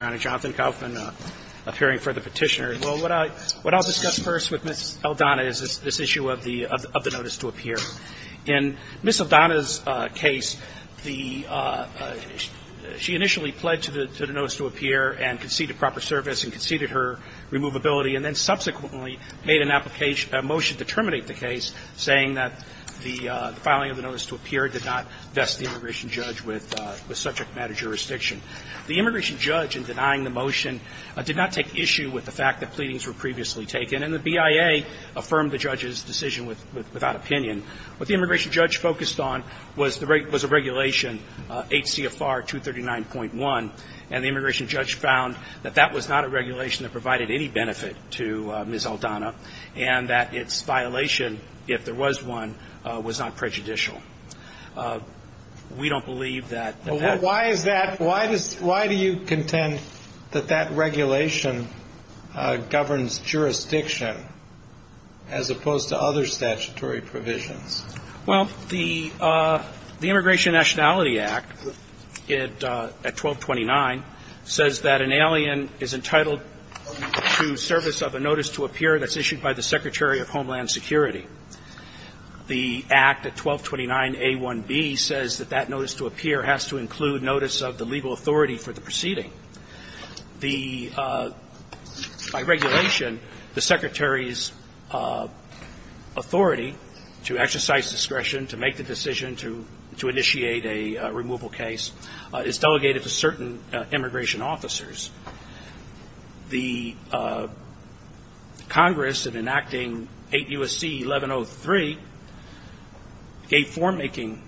and Jonathan Kaufman appearing for the Petitioner. Well, what I'll discuss first with Ms. Aldana is this issue of the notice to appear. In Ms. Aldana's case, the – she initially pledged to the notice to appear and conceded proper service and conceded her removability and then subsequently made an application – a motion to terminate the case saying that the filing of the notice to appear did not vest the immigration judge with subject matter jurisdiction. The immigration judge, in denying the motion, did not take issue with the fact that pleadings were previously taken, and the BIA affirmed the judge's decision without opinion. What the immigration judge focused on was a regulation, HCFR 239.1, and the immigration judge found that that was not a regulation that provided any benefit to Ms. Aldana and that its violation, if there was one, was not prejudicial. We don't believe that that's – Why is that – why do you contend that that regulation governs jurisdiction as opposed to other statutory provisions? Well, the Immigration Nationality Act at 1229 says that an alien is entitled to service of a notice to appear that's issued by the Secretary of Homeland Security. The Act at 1229A1B says that that notice to appear has to include notice of the legal authority for the proceeding. The – by regulation, the Secretary's authority to exercise discretion, to make the decision to – to initiate a removal case is delegated to certain immigration officers. The Congress, in enacting 8 U.S.C. 1103, gave form-making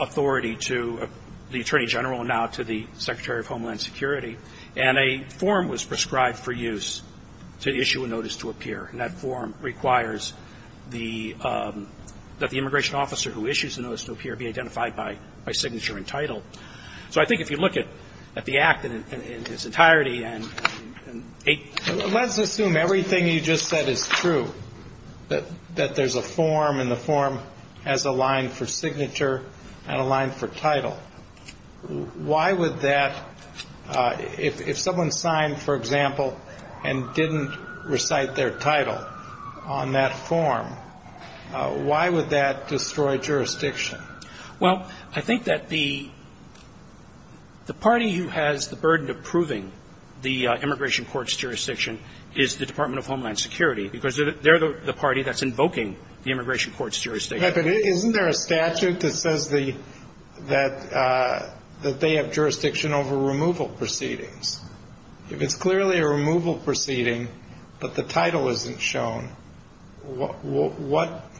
authority to the Attorney General and now to the Secretary of Homeland Security, and a form was prescribed for use to issue a notice to appear, and that form requires the – that the immigration officer who issues the notice to appear be identified by signature and title. So I think if you look at the Act in its entirety and 8 – Let's assume everything you just said is true, that there's a form, and the form has a line for signature and a line for title. Why would that – if someone signed, for example, and didn't recite their title on that form, why would that destroy jurisdiction? Well, I think that the party who has the burden of proving the immigration court's jurisdiction is the Department of Homeland Security, because they're the party that's invoking the immigration court's jurisdiction. But isn't there a statute that says the – that they have jurisdiction over removal proceedings? If it's clearly a removal proceeding, but the title isn't shown, what –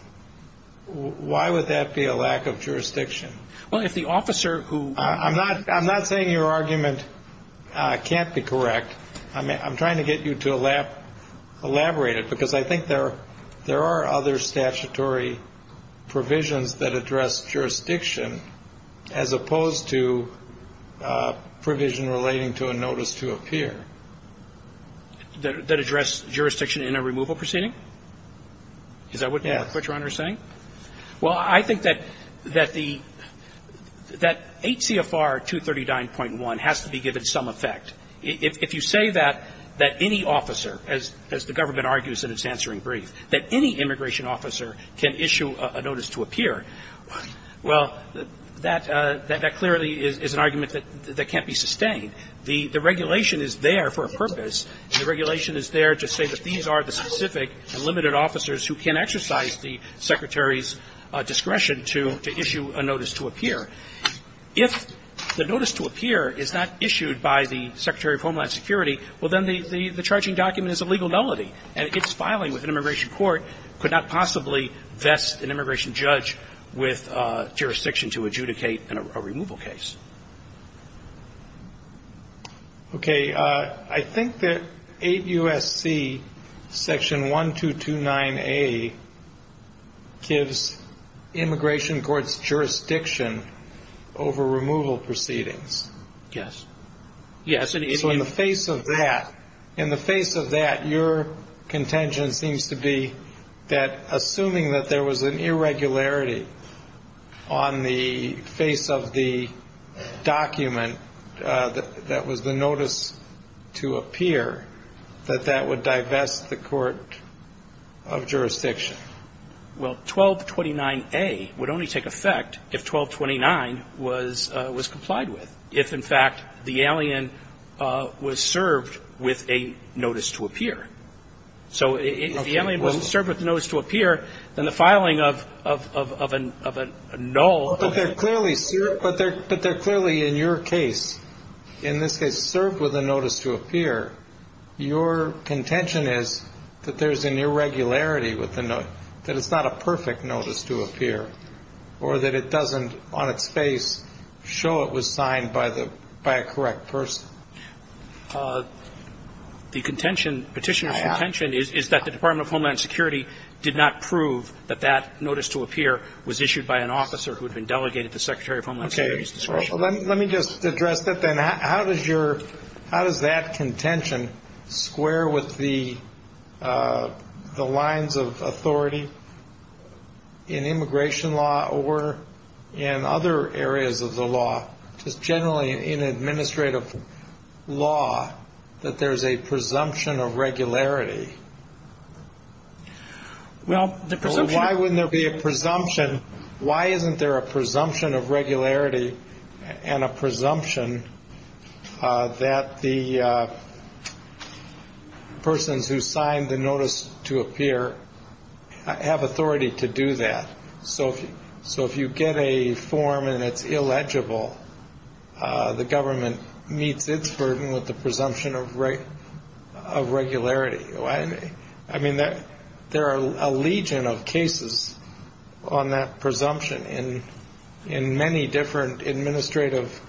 why would that be a lack of jurisdiction? Well, if the officer who – I'm not – I'm not saying your argument can't be correct. I'm trying to get you to elaborate it, because I think there are other statutory provisions that address jurisdiction as opposed to provision relating to a notice to appear. That address jurisdiction in a removal proceeding? Yeah. Is that what Your Honor is saying? Well, I think that the – that 8 CFR 239.1 has to be given some effect. If you say that any officer, as the government argues in its answering brief, that any immigration officer can issue a notice to appear, well, that clearly is an argument that can't be sustained. The regulation is there for a purpose. The regulation is there to say that these are the specific and limited officers who can exercise the Secretary's discretion to issue a notice to appear. If the notice to appear is not issued by the Secretary of Homeland Security, well, then the charging document is a legal nullity. And its filing with an immigration court could not possibly vest an immigration judge with jurisdiction to adjudicate a removal case. Okay. I think that 8 U.S.C. section 1229A gives immigration courts jurisdiction over removal proceedings. Yes. Yes. And if you – So in the face of that, in the face of that, your contention seems to be that assuming that there was an irregularity on the face of the document that was the notice to appear, that that would divest the court of jurisdiction. Well, 1229A would only take effect if 1229 was complied with. If, in fact, the alien was served with a notice to appear. So if the alien wasn't served with a notice to appear, then the filing of a null – But they're clearly – but they're clearly, in your case, in this case, served with a notice to appear, your contention is that there's an irregularity with the note, that it's not a perfect notice to appear, or that it doesn't, on its face, show it was signed by the – by a correct person. The contention, Petitioner's contention, is that the Department of Homeland Security did not prove that that notice to appear was issued by an officer who had been delegated to Secretary of Homeland Security's discretion. Let me just address that then. How does your – how does that contention square with the lines of authority in immigration law or in other areas of the law, just generally in administrative law, that there's a presumption of regularity Well, the presumption – Why wouldn't there be a presumption? Why isn't there a presumption of regularity and a presumption that the persons who signed the notice to appear have authority to do that? So if you get a form and it's illegible, the government meets its burden with the presumption of regularity. I mean, there are a legion of cases on that presumption in many different administrative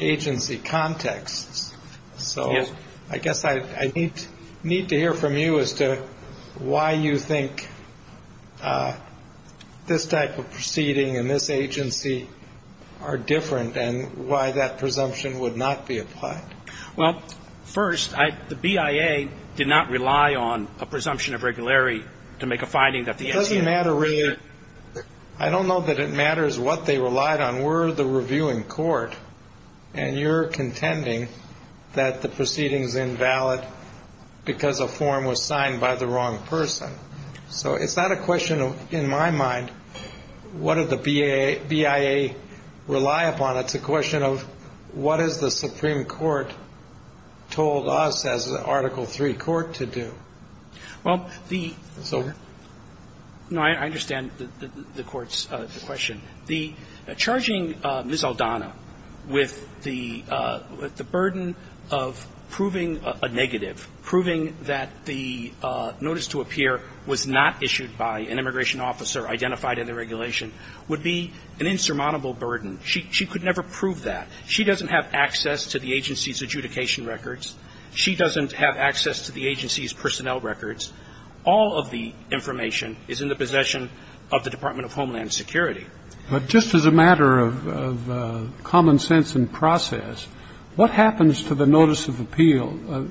agency contexts. So I guess I need to hear from you as to why you think this type of proceeding and this agency are different and why that presumption would not be applied. Well, first, I – the BIA did not rely on a presumption of regularity to make a finding that the – It doesn't matter, really. I don't know that it matters what they relied on. We're the reviewing court, and you're contending that the proceeding's invalid because a form was signed by the wrong person. So it's not a question of, in my mind, what did the BIA rely upon. It's a question of what has the Supreme Court told us as an Article III court to do. Well, the – So? No, I understand the Court's question. The – charging Ms. Aldana with the burden of proving a negative, proving that the notice to appear was not issued by an immigration officer identified in the regulation, would be an insurmountable burden. She could never prove that. She doesn't have access to the agency's adjudication records. She doesn't have access to the agency's personnel records. All of the information is in the possession of the Department of Homeland Security. But just as a matter of common sense and process, what happens to the notice of appeal,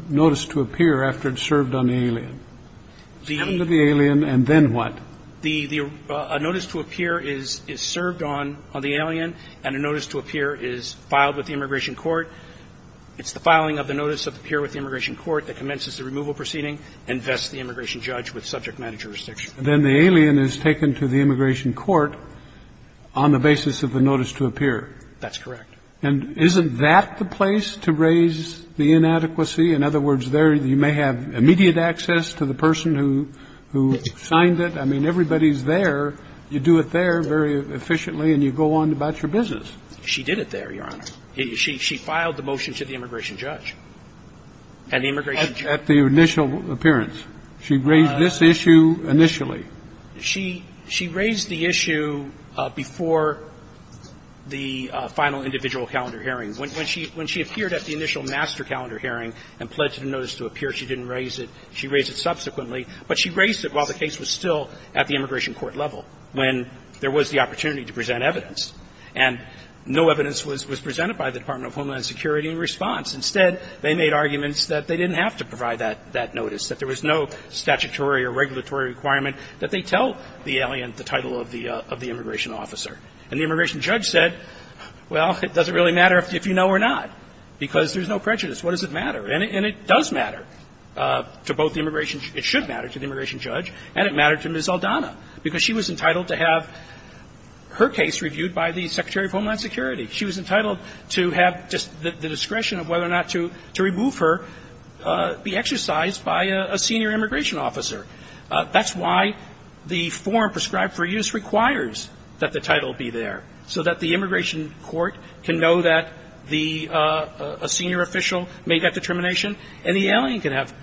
notice to appear after it's served on the alien? It's served on the alien, and then what? The – a notice to appear is served on the alien, and a notice to appear is filed with the immigration court. It's the filing of the notice of appear with the immigration court that commences the removal proceeding and vests the immigration judge with subject matter jurisdiction. Then the alien is taken to the immigration court on the basis of the notice to appear. That's correct. And isn't that the place to raise the inadequacy? In other words, there you may have everybody's there, you do it there very efficiently, and you go on about your business. She did it there, Your Honor. She filed the motion to the immigration judge. At the immigration judge? At the initial appearance. She raised this issue initially. She raised the issue before the final individual calendar hearing. When she appeared at the initial master calendar hearing and pledged a notice to appear, she didn't raise it. She raised it subsequently. But she raised it while the case was still at the immigration court level when there was the opportunity to present evidence. And no evidence was presented by the Department of Homeland Security in response. Instead, they made arguments that they didn't have to provide that notice, that there was no statutory or regulatory requirement that they tell the alien the title of the immigration officer. And the immigration judge said, well, it doesn't really matter if you know or not, because there's no prejudice. What does it matter? And it does matter to both the immigration – it should matter to the immigration judge and it mattered to Ms. Aldana, because she was entitled to have her case reviewed by the Secretary of Homeland Security. She was entitled to have just the discretion of whether or not to remove her be exercised by a senior immigration officer. That's why the form prescribed for use requires that the title be there, so that the immigration court can know that the – a senior official made that determination, and the alien can have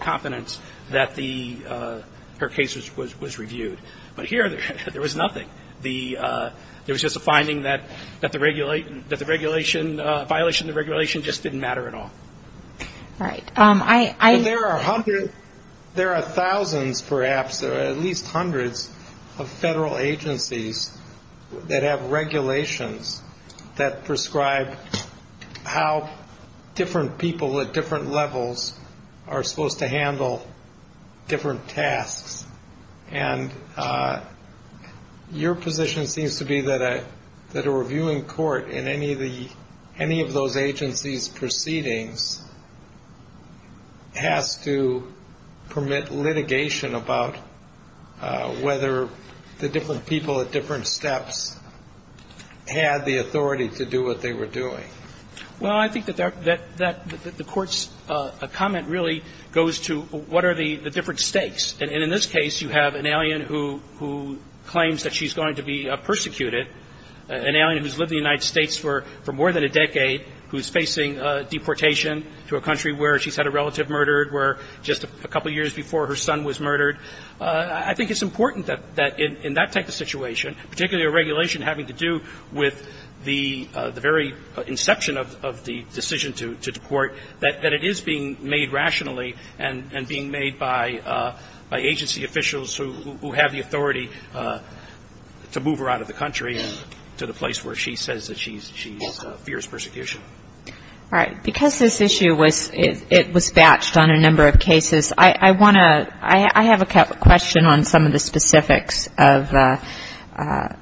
confidence that the – her case was reviewed. But here, there was nothing. The – there was just a finding that the regulation – that the regulation – violation of the regulation just didn't matter at all. MS. GOTTLIEB Right. I – MR. GOLDSMITH There are hundreds – there are thousands, perhaps, or at least that prescribe how different people at different levels are supposed to handle different tasks. And your position seems to be that a – that a reviewing court in any of the – any of those agencies' proceedings has to permit litigation about whether the different people at different steps had the authority to do what they were doing. MR. GOTTLIEB Well, I think that that – that the court's comment really goes to what are the – the different stakes. And in this case, you have an alien who – who claims that she's going to be persecuted, an alien who's lived in the United States for more than a decade, who's facing deportation to a country where she's had a relative murdered, where just a couple years before, her son was murdered. I think it's important that – that in that type of situation, particularly a regulation having to do with the – the very inception of – of the decision to – to deport, that – that it is being made rationally and – and being made by – by agency officials who – who have the authority to move her out of the country and to the place where she says that she's – she's fierce persecution. MS. GOTTLIEB All right. Because this issue was – it was batched on a number of cases, I – I want to – I – I have a question on some of the specifics of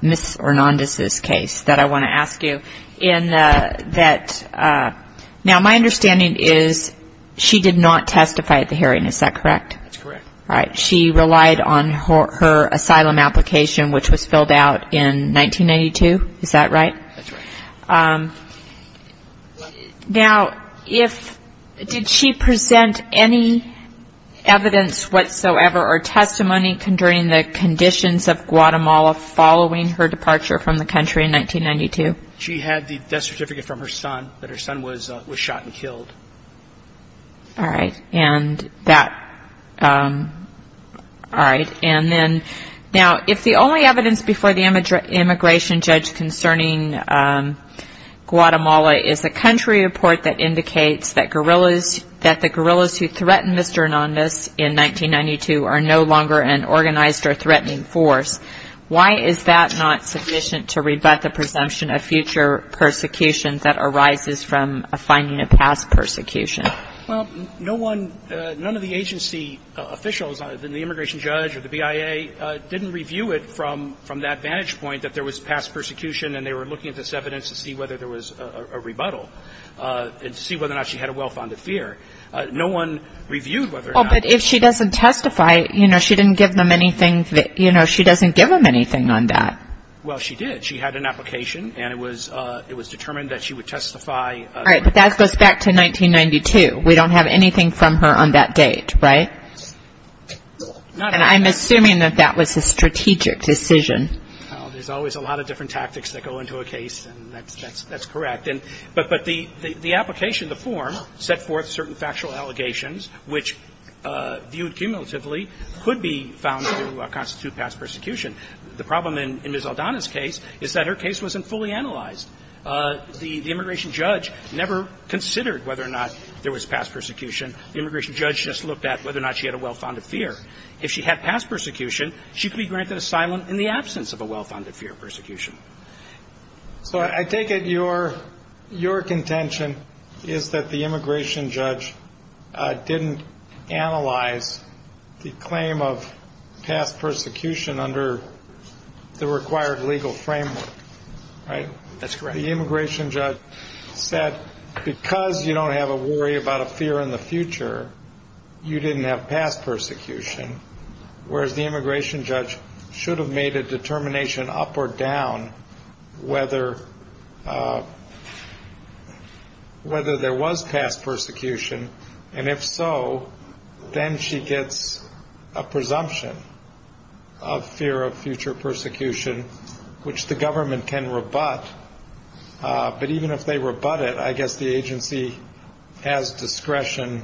Ms. Hernandez's case that I want to ask you. In the – that – now, my understanding is she did not testify at the hearing. Is that correct? MR. GOTTLIEB That's correct. MS. GOTTLIEB All right. She relied on her – her asylum application, which was filled out in 1992. Is that right? MR. GOTTLIEB That's right. MS. GOTTLIEB Now, if – did she present any evidence whatsoever or testimony concerning the conditions of Guatemala following her departure from the country in 1992? MR. GOTTLIEB She had the death certificate from her son that her son was – was shot and killed. MS. GOTTLIEB All right. And that – all right. And then – now, if the only evidence before the immigration judge concerning Guatemala is a country report that indicates that guerrillas – that the guerrillas who threatened Mr. Hernandez in 1992 are no longer an organized or threatening force, why is that not sufficient to rebut the presumption of future persecution that arises from a finding of past persecution? MR. GOTTLIEB Well, no one – none of the agency officials, the immigration judge or any agency official in the United States, has ever said that she had a well-founded fear. No one reviewed whether or not – MS. GOTTLIEB Well, but if she doesn't testify, you know, she didn't give them anything – you know, she doesn't give them anything on that. MR. GOTTLIEB Well, she did. She had an application, and it was – it was determined that she would testify. MS. GOTTLIEB All right. But that goes back to 1992. We don't have anything from her MR. GOTTLIEB Not at this point. MS. GOTTLIEB And I'm assuming that that was a strategic decision. MR. GOTTLIEB Well, there's always a lot of different tactics that go into a case, and that's – that's correct. And – but the application, the form, set forth certain factual allegations which, viewed cumulatively, could be found to constitute past persecution. The problem in Ms. Aldana's case is that her case wasn't fully analyzed. The immigration judge never considered whether or not there was past persecution. The immigration judge just looked at whether or not she had a well-founded fear. If she had past persecution, she could be granted asylum in the absence of a well-founded fear of persecution. MR. GOTTLIEB So I take it your – your contention is that the immigration judge didn't analyze the claim of past persecution under the required legal framework, right? MR. GOTTLIEB That's correct. MR. GOTTLIEB The immigration judge said because you don't have a worry about a fear in the future, you didn't have past persecution, whereas the immigration judge should have made a determination up or down whether – whether there was past persecution. And if so, then she gets a presumption of fear of future persecution, which the government can rebut. But even if they rebut it, I guess the agency has discretion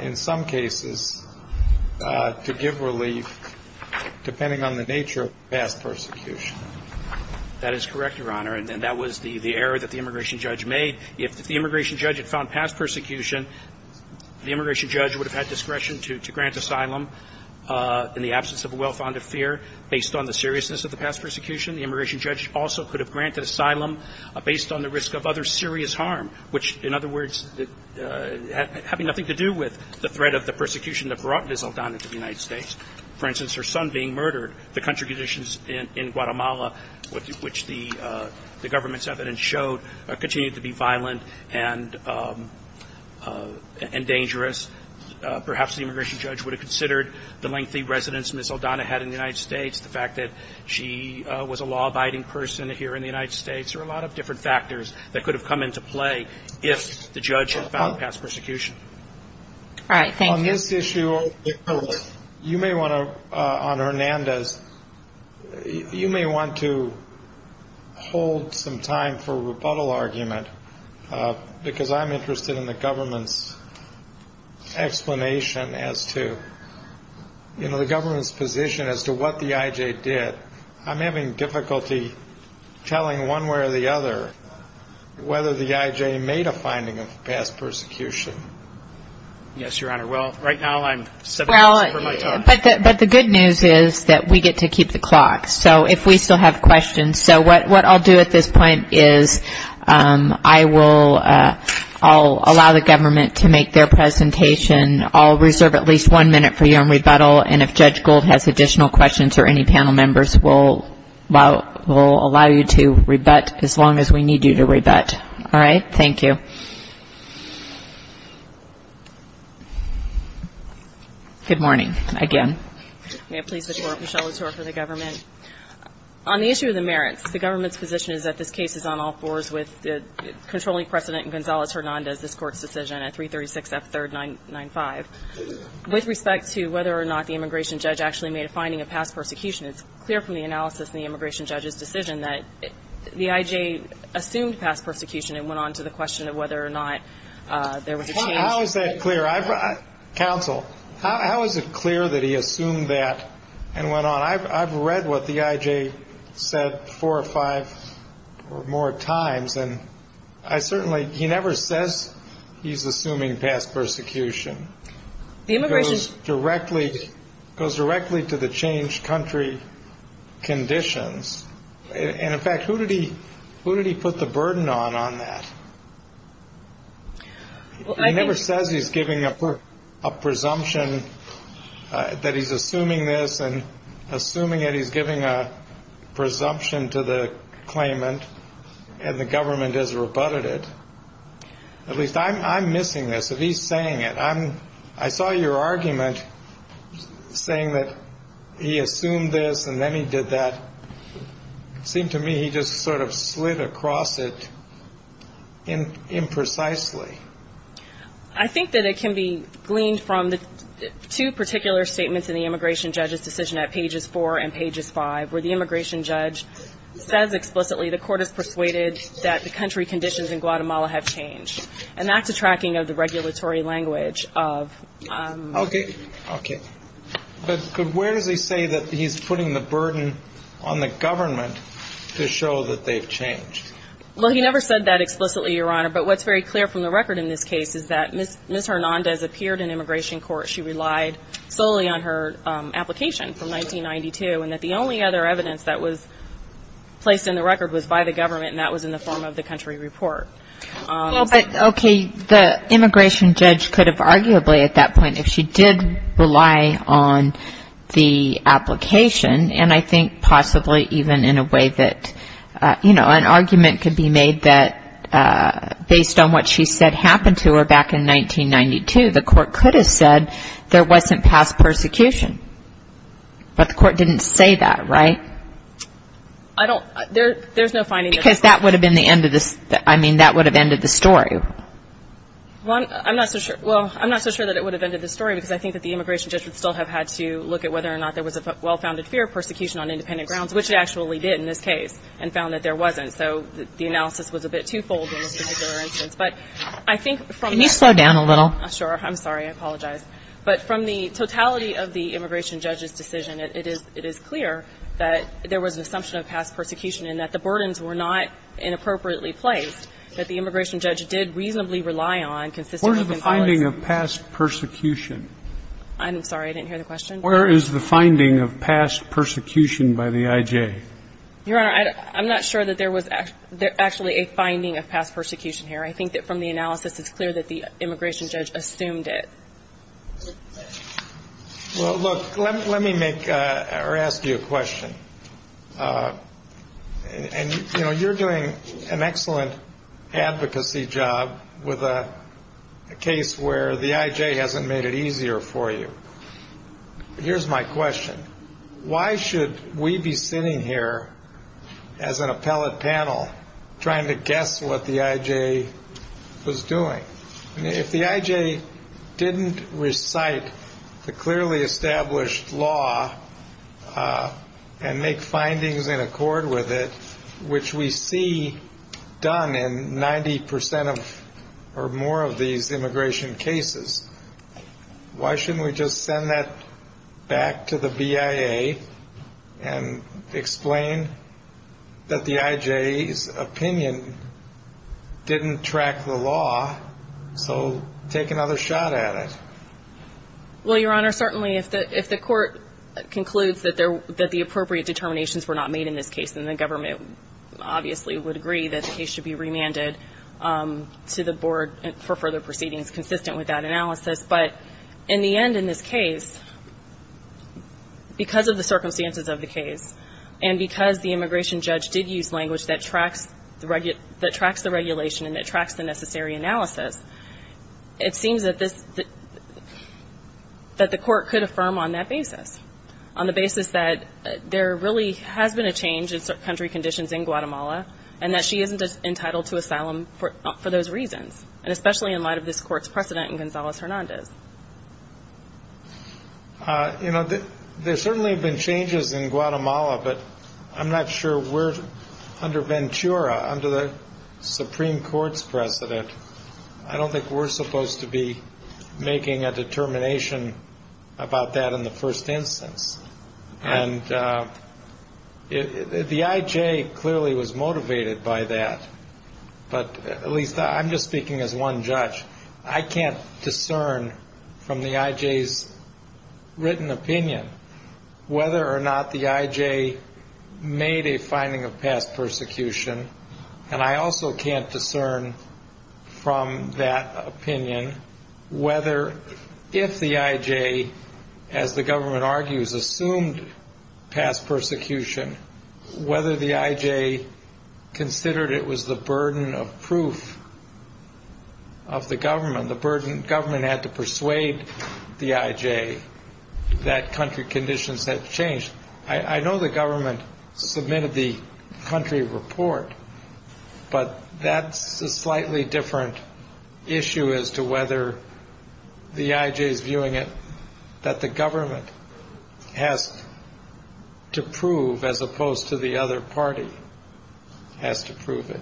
in some cases to give relief depending on the nature of past persecution. MR. GOTTLIEB That is correct, Your Honor. And that was the – the error that the immigration judge made. If the immigration judge had found past persecution, the immigration judge would have had discretion to – to grant asylum in the absence of a well-founded fear. Based on the seriousness of the past persecution, the immigration judge also could have granted asylum based on the risk of other serious harm, which, in other words, having nothing to do with the threat of the persecution that brought Ms. Aldana to the United States. For instance, her son being murdered, the country conditions in Guatemala, which the government's evidence showed, continued to be violent and dangerous. Perhaps the immigration judge would have considered the lengthy residence Ms. Aldana had in the United States, the fact that she was a law-abiding person here in the United States. There are a lot of different factors that could have come into play if the judge had found past persecution. MS. GOTTLIEB All right. Thank you. MR. GOTTLIEB On this issue, you may want to – on Hernandez, you may want to hold some time for a rebuttal argument, because I'm interested in the government's explanation as to – you know, the government's position as to what the I.J. did. I'm having difficulty telling one way or the other whether the I.J. made a finding of past persecution. MR. HERNANDEZ Yes, Your Honor. Well, right now I'm seven days from my time. MS. GOTTLIEB But the good news is that we get to keep the clock. So if we still have questions – so what I'll do at this point is I will – I'll allow the government to make their presentation. I'll reserve at least one minute for you in rebuttal. And if Judge Gold has additional questions or any panel members, we'll allow you to rebut as long as we need you to rebut. Thank you. GOTTLIEB Good morning, again. MS. GOTTLIEB May I please have the floor, Michelle Latour, for the government? On the issue of the merits, the government's position is that this case is on all fours with controlling precedent in Gonzales-Hernandez, this Court's decision at 336F3995. With respect to whether or not the immigration judge actually made a finding of past persecution, it's clear from the analysis in the immigration judge's decision that the IJ assumed past persecution and went on to the question of whether or not there was a change. MR. HERNANDEZ How is that clear? Counsel, how is it clear that he assumed that and went on? I've read what the IJ said four or five or more times, and I certainly, he never says he's assuming past persecution. It goes directly to the changed country conditions. And in fact, who did he put the burden on on that? He never says he's giving a presumption that he's assuming this and assuming that he's giving a presumption to the claimant and the government has rebutted it. At least I'm missing this. If he's saying it, I'm, I saw your argument saying that he assumed this and then he did that. It seemed to me he just sort of slid across it imprecisely. I think that it can be gleaned from the two particular statements in the immigration judge's decision at pages four and pages five, where the immigration judge says explicitly the court is persuaded that the country conditions in Guatemala have changed. And that's a tracking of the regulatory language of. Okay. Okay. But where does he say that he's putting the burden on the government to show that they've changed? Well, he never said that explicitly, Your Honor, but what's very clear from the record in this case is that Ms. Hernandez appeared in immigration court. She relied solely on her application from 1992 and that the only other evidence that was placed in the record was by the government. And that was in the form of the country report. Well, but okay, the immigration judge could have arguably at that point, if she did rely on the application, and I think possibly even in a way that, you know, an argument could be made that based on what she said happened to her back in 1992, the court could have said there wasn't past persecution. But the court didn't say that, right? I don't, there, there's no finding. Because that would have been the end of this. I mean, that would have ended the story. Well, I'm not so sure. Well, I'm not so sure that it would have ended the story because I think that the immigration judge would still have had to look at whether or not there was a well-founded fear of persecution on independent grounds, which it actually did in this case and found that there wasn't. So the analysis was a bit twofold in this particular instance. But I think from. Can you slow down a little? Sure. I'm sorry. I apologize. But from the totality of the immigration judge's decision, it is, it is clear that there was an assumption of past persecution and that the burdens were not inappropriately placed, that the immigration judge did reasonably rely on. Where is the finding of past persecution? I'm sorry. I didn't hear the question. Where is the finding of past persecution by the I.J.? Your Honor, I'm not sure that there was actually a finding of past persecution here. I think that from the analysis, it's clear that the immigration judge assumed it. Well, look, let me make or ask you a question. And, you know, you're doing an excellent advocacy job with a case where the I.J. hasn't made it easier for you. Here's my question. Why should we be sitting here as an appellate panel trying to guess what the I.J. was doing? If the I.J. didn't recite the clearly established law and make findings in accord with it, which we see done in 90 percent of or more of these immigration cases, why shouldn't we just send that back to the BIA and explain that the I.J.'s opinion didn't track the law? So take another shot at it. Well, Your Honor, certainly if the court concludes that the appropriate determinations were not made in this case, then the government obviously would agree that the case should be remanded to the board for further proceedings consistent with that analysis. But in the end, in this case, because of the circumstances of the case and because the that tracks the regulation and it tracks the necessary analysis, it seems that this that the court could affirm on that basis, on the basis that there really has been a change in country conditions in Guatemala and that she isn't entitled to asylum for those reasons, and especially in light of this court's precedent in Gonzalez-Hernandez. You know, there certainly have been changes in Guatemala, but I'm not sure we're under under the Supreme Court's precedent. I don't think we're supposed to be making a determination about that in the first instance. And the I.J. clearly was motivated by that. But at least I'm just speaking as one judge. I can't discern from the I.J.'s written opinion whether or not the I.J. made a finding of past persecution. And I also can't discern from that opinion whether, if the I.J., as the government argues, assumed past persecution, whether the I.J. considered it was the burden of proof of the government, the burden government had to persuade the I.J. that country conditions had changed. I know the government submitted the country report, but that's a slightly different issue as to whether the I.J.'s viewing it that the government has to prove as opposed to the other party has to prove it.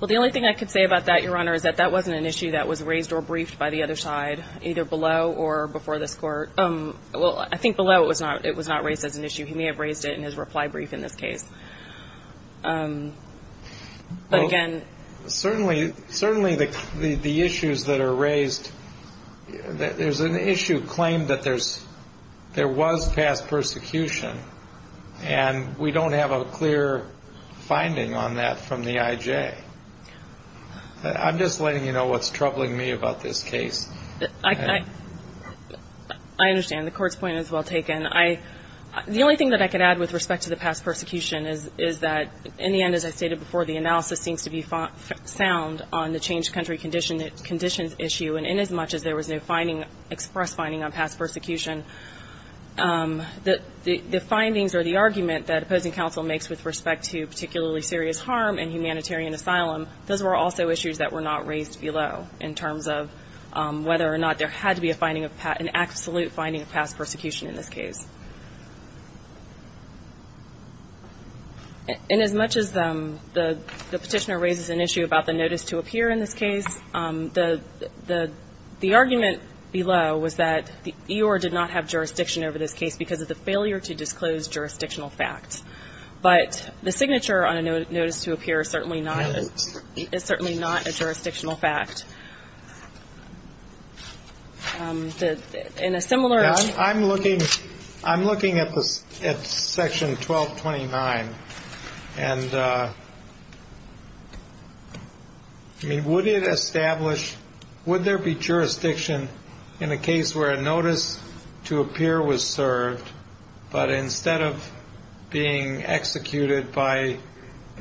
Well, the only thing I could say about that, Your Honor, is that that wasn't an issue that was raised or briefed by the other side, either below or before this court. Well, I think below it was not it was not raised as an issue. He may have raised it in his reply brief in this case. But again, certainly, certainly the issues that are raised, there's an issue claimed that there's there was past persecution, and we don't have a clear finding on that from the I.J. I'm just letting you know what's troubling me about this case. I I understand the court's point is well taken. I the only thing that I could add with respect to the past persecution is is that in the end, as I stated before, the analysis seems to be sound on the changed country condition that conditions issue. And inasmuch as there was no finding express finding on past persecution, the findings or the argument that opposing counsel makes with respect to particularly serious harm and humanitarian asylum, those were also issues that were not raised below in terms of whether or not there had to be a finding of an absolute finding of past persecution in this case. And as much as the petitioner raises an issue about the notice to appear in this case, the the the argument below was that the E.R. did not have jurisdiction over this case because of the failure to disclose jurisdictional facts. But the signature on a notice to appear is certainly not is certainly not a jurisdictional fact. That in a similar way, I'm looking I'm looking at this at Section 1229 and. I mean, would it establish would there be jurisdiction in a case where a notice to appear was served, but instead of being executed by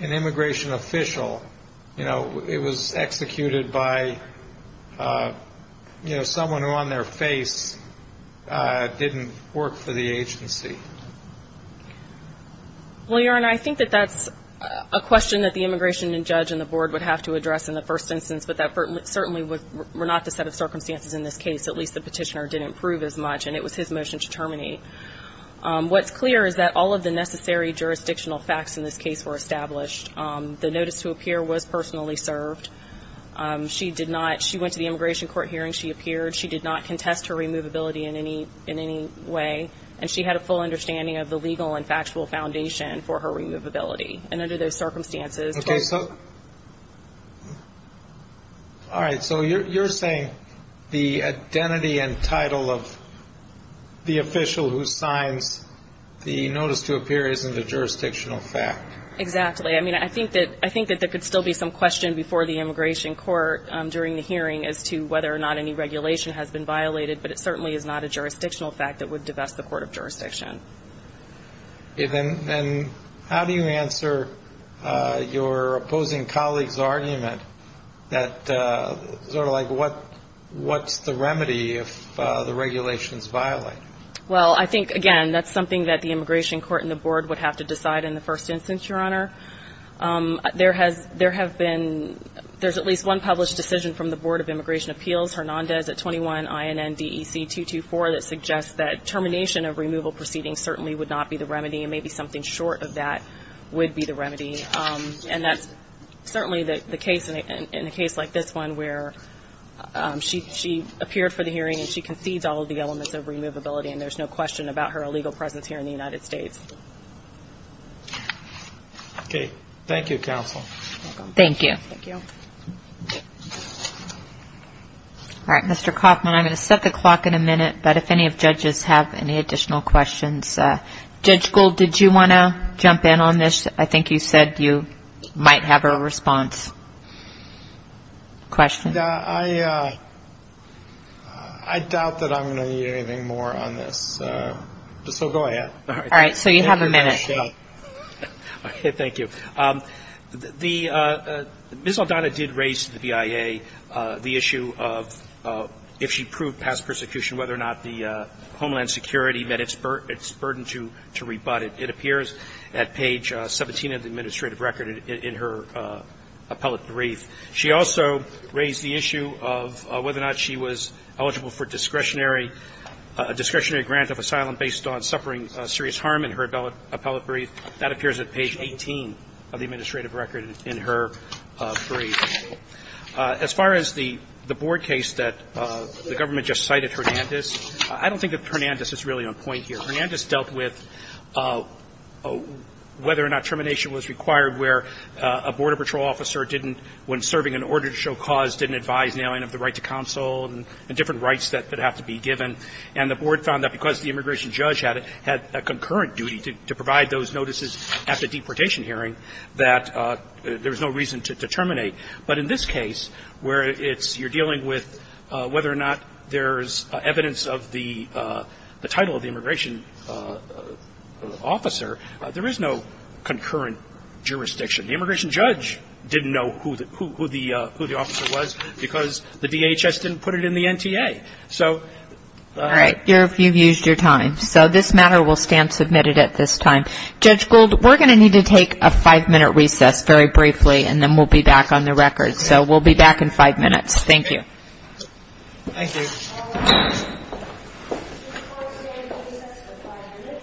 an immigration official, you know, it was executed by, you know, someone who on their face didn't work for the agency? Well, your honor, I think that that's a question that the immigration judge and the board would have to address in the first instance, but that certainly would were not the set of circumstances in this case. At least the petitioner didn't prove as much. And it was his motion to terminate. What's clear is that all of the necessary jurisdictional facts in this case were established. The notice to appear was personally served. She did not. She went to the immigration court hearing. She appeared. She did not contest her removability in any in any way. And she had a full understanding of the legal and factual foundation for her removability. And under those circumstances. All right. So you're saying the identity and title of the official who signs the notice to appear isn't a jurisdictional fact? Exactly. I think that there could still be some question before the immigration court during the hearing as to whether or not any regulation has been violated, but it certainly is not a jurisdictional fact that would divest the court of jurisdiction. And how do you answer your opposing colleague's argument that sort of like what's the remedy if the regulation is violated? Well, I think, again, that's something that the immigration court and the board would have to decide in the first instance, your honor. There has there have been there's at least one published decision from the Board of Immigration Appeals Hernandez at 21 INN DEC 224 that suggests that termination of removal proceedings certainly would not be the remedy. And maybe something short of that would be the remedy. And that's certainly the case in a case like this one where she appeared for the hearing and she concedes all of the elements of removability. And there's no question about her illegal presence here in the United States. Okay. Thank you, counsel. Thank you. Thank you. All right, Mr. Kaufman, I'm going to set the clock in a minute. But if any of judges have any additional questions, Judge Gould, did you want to jump in on this? I think you said you might have a response. Question? Yeah, I I doubt that I'm going to need anything more on this, so go ahead. All right. So you're going to jump in on this. We have a minute. Okay, thank you. The Ms. Aldana did raise to the BIA the issue of if she proved past persecution, whether or not the Homeland Security met its burden to rebut it. It appears at page 17 of the administrative record in her appellate brief. She also raised the issue of whether or not she was eligible for discretionary grant of asylum based on suffering serious harm in her appellate brief. That appears at page 18 of the administrative record in her brief. As far as the board case that the government just cited, Hernandez, I don't think that Hernandez is really on point here. Hernandez dealt with whether or not termination was required where a border patrol officer didn't, when serving an order to show cause, didn't advise of the right to counsel and different rights that have to be given. And the board found that because the immigration judge had a concurrent duty to provide those notices at the deportation hearing, that there was no reason to terminate. But in this case, where it's you're dealing with whether or not there's evidence of the title of the immigration officer, there is no concurrent jurisdiction. The immigration judge didn't know who the officer was because the DHS didn't put it in the NTA. So... All right. You've used your time. So this matter will stand submitted at this time. Judge Gould, we're going to need to take a five-minute recess very briefly, and then we'll be back on the record. So we'll be back in five minutes. Thank you. Thank you. Thank you. Thank you. Thank you. Thank you. Thank you. Thank you.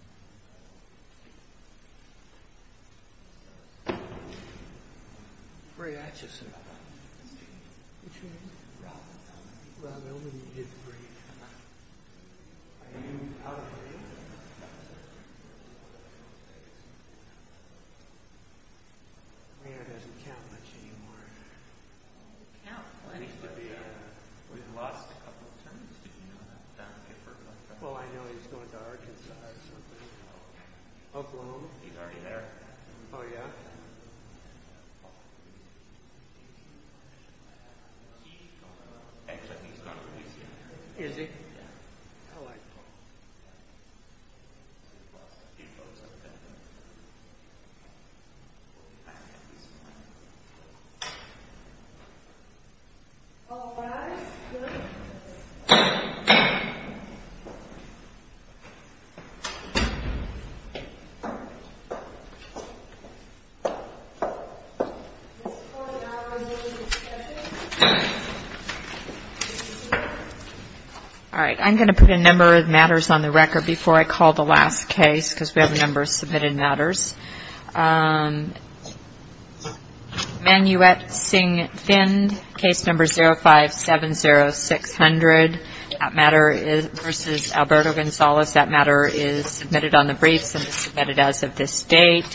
Thank you. Thank you. Thank you. Thank you. Thank you. Thank you. All right. I'm going to put a number of matters on the record before I call the last case, because we have a number of submitted matters. Manuette Singh-Find, case number 0570600, that matter versus Alberto Gonzalez, that matter is submitted on the briefs and is submitted as of this date.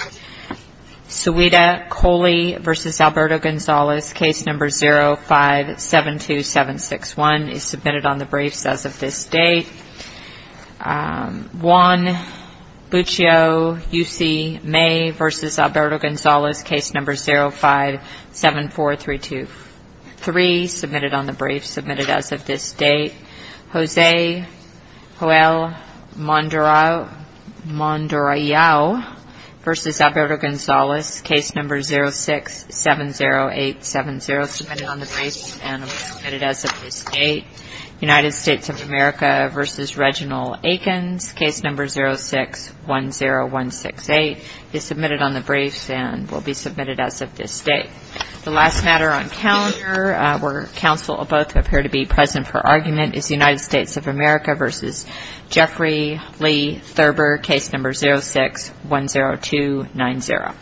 Sawida Coley versus Alberto Gonzalez, case number 0572761, is submitted on the briefs as of this date. Juan Buccio, U.C., May versus Alberto Gonzalez, case number 0574323, submitted on the briefs, submitted as of this date. Jose Joel Mondurellao versus Alberto Gonzalez, case number 0670870, submitted on the briefs and submitted as of this date. United States of America versus Reginald Aikens, case number 0610168, is submitted on the briefs and will be submitted as of this date. The last matter on calendar, where counsel will both appear to be present for argument, is United States of America versus Jeffrey Lee Thurber, case number 0610290.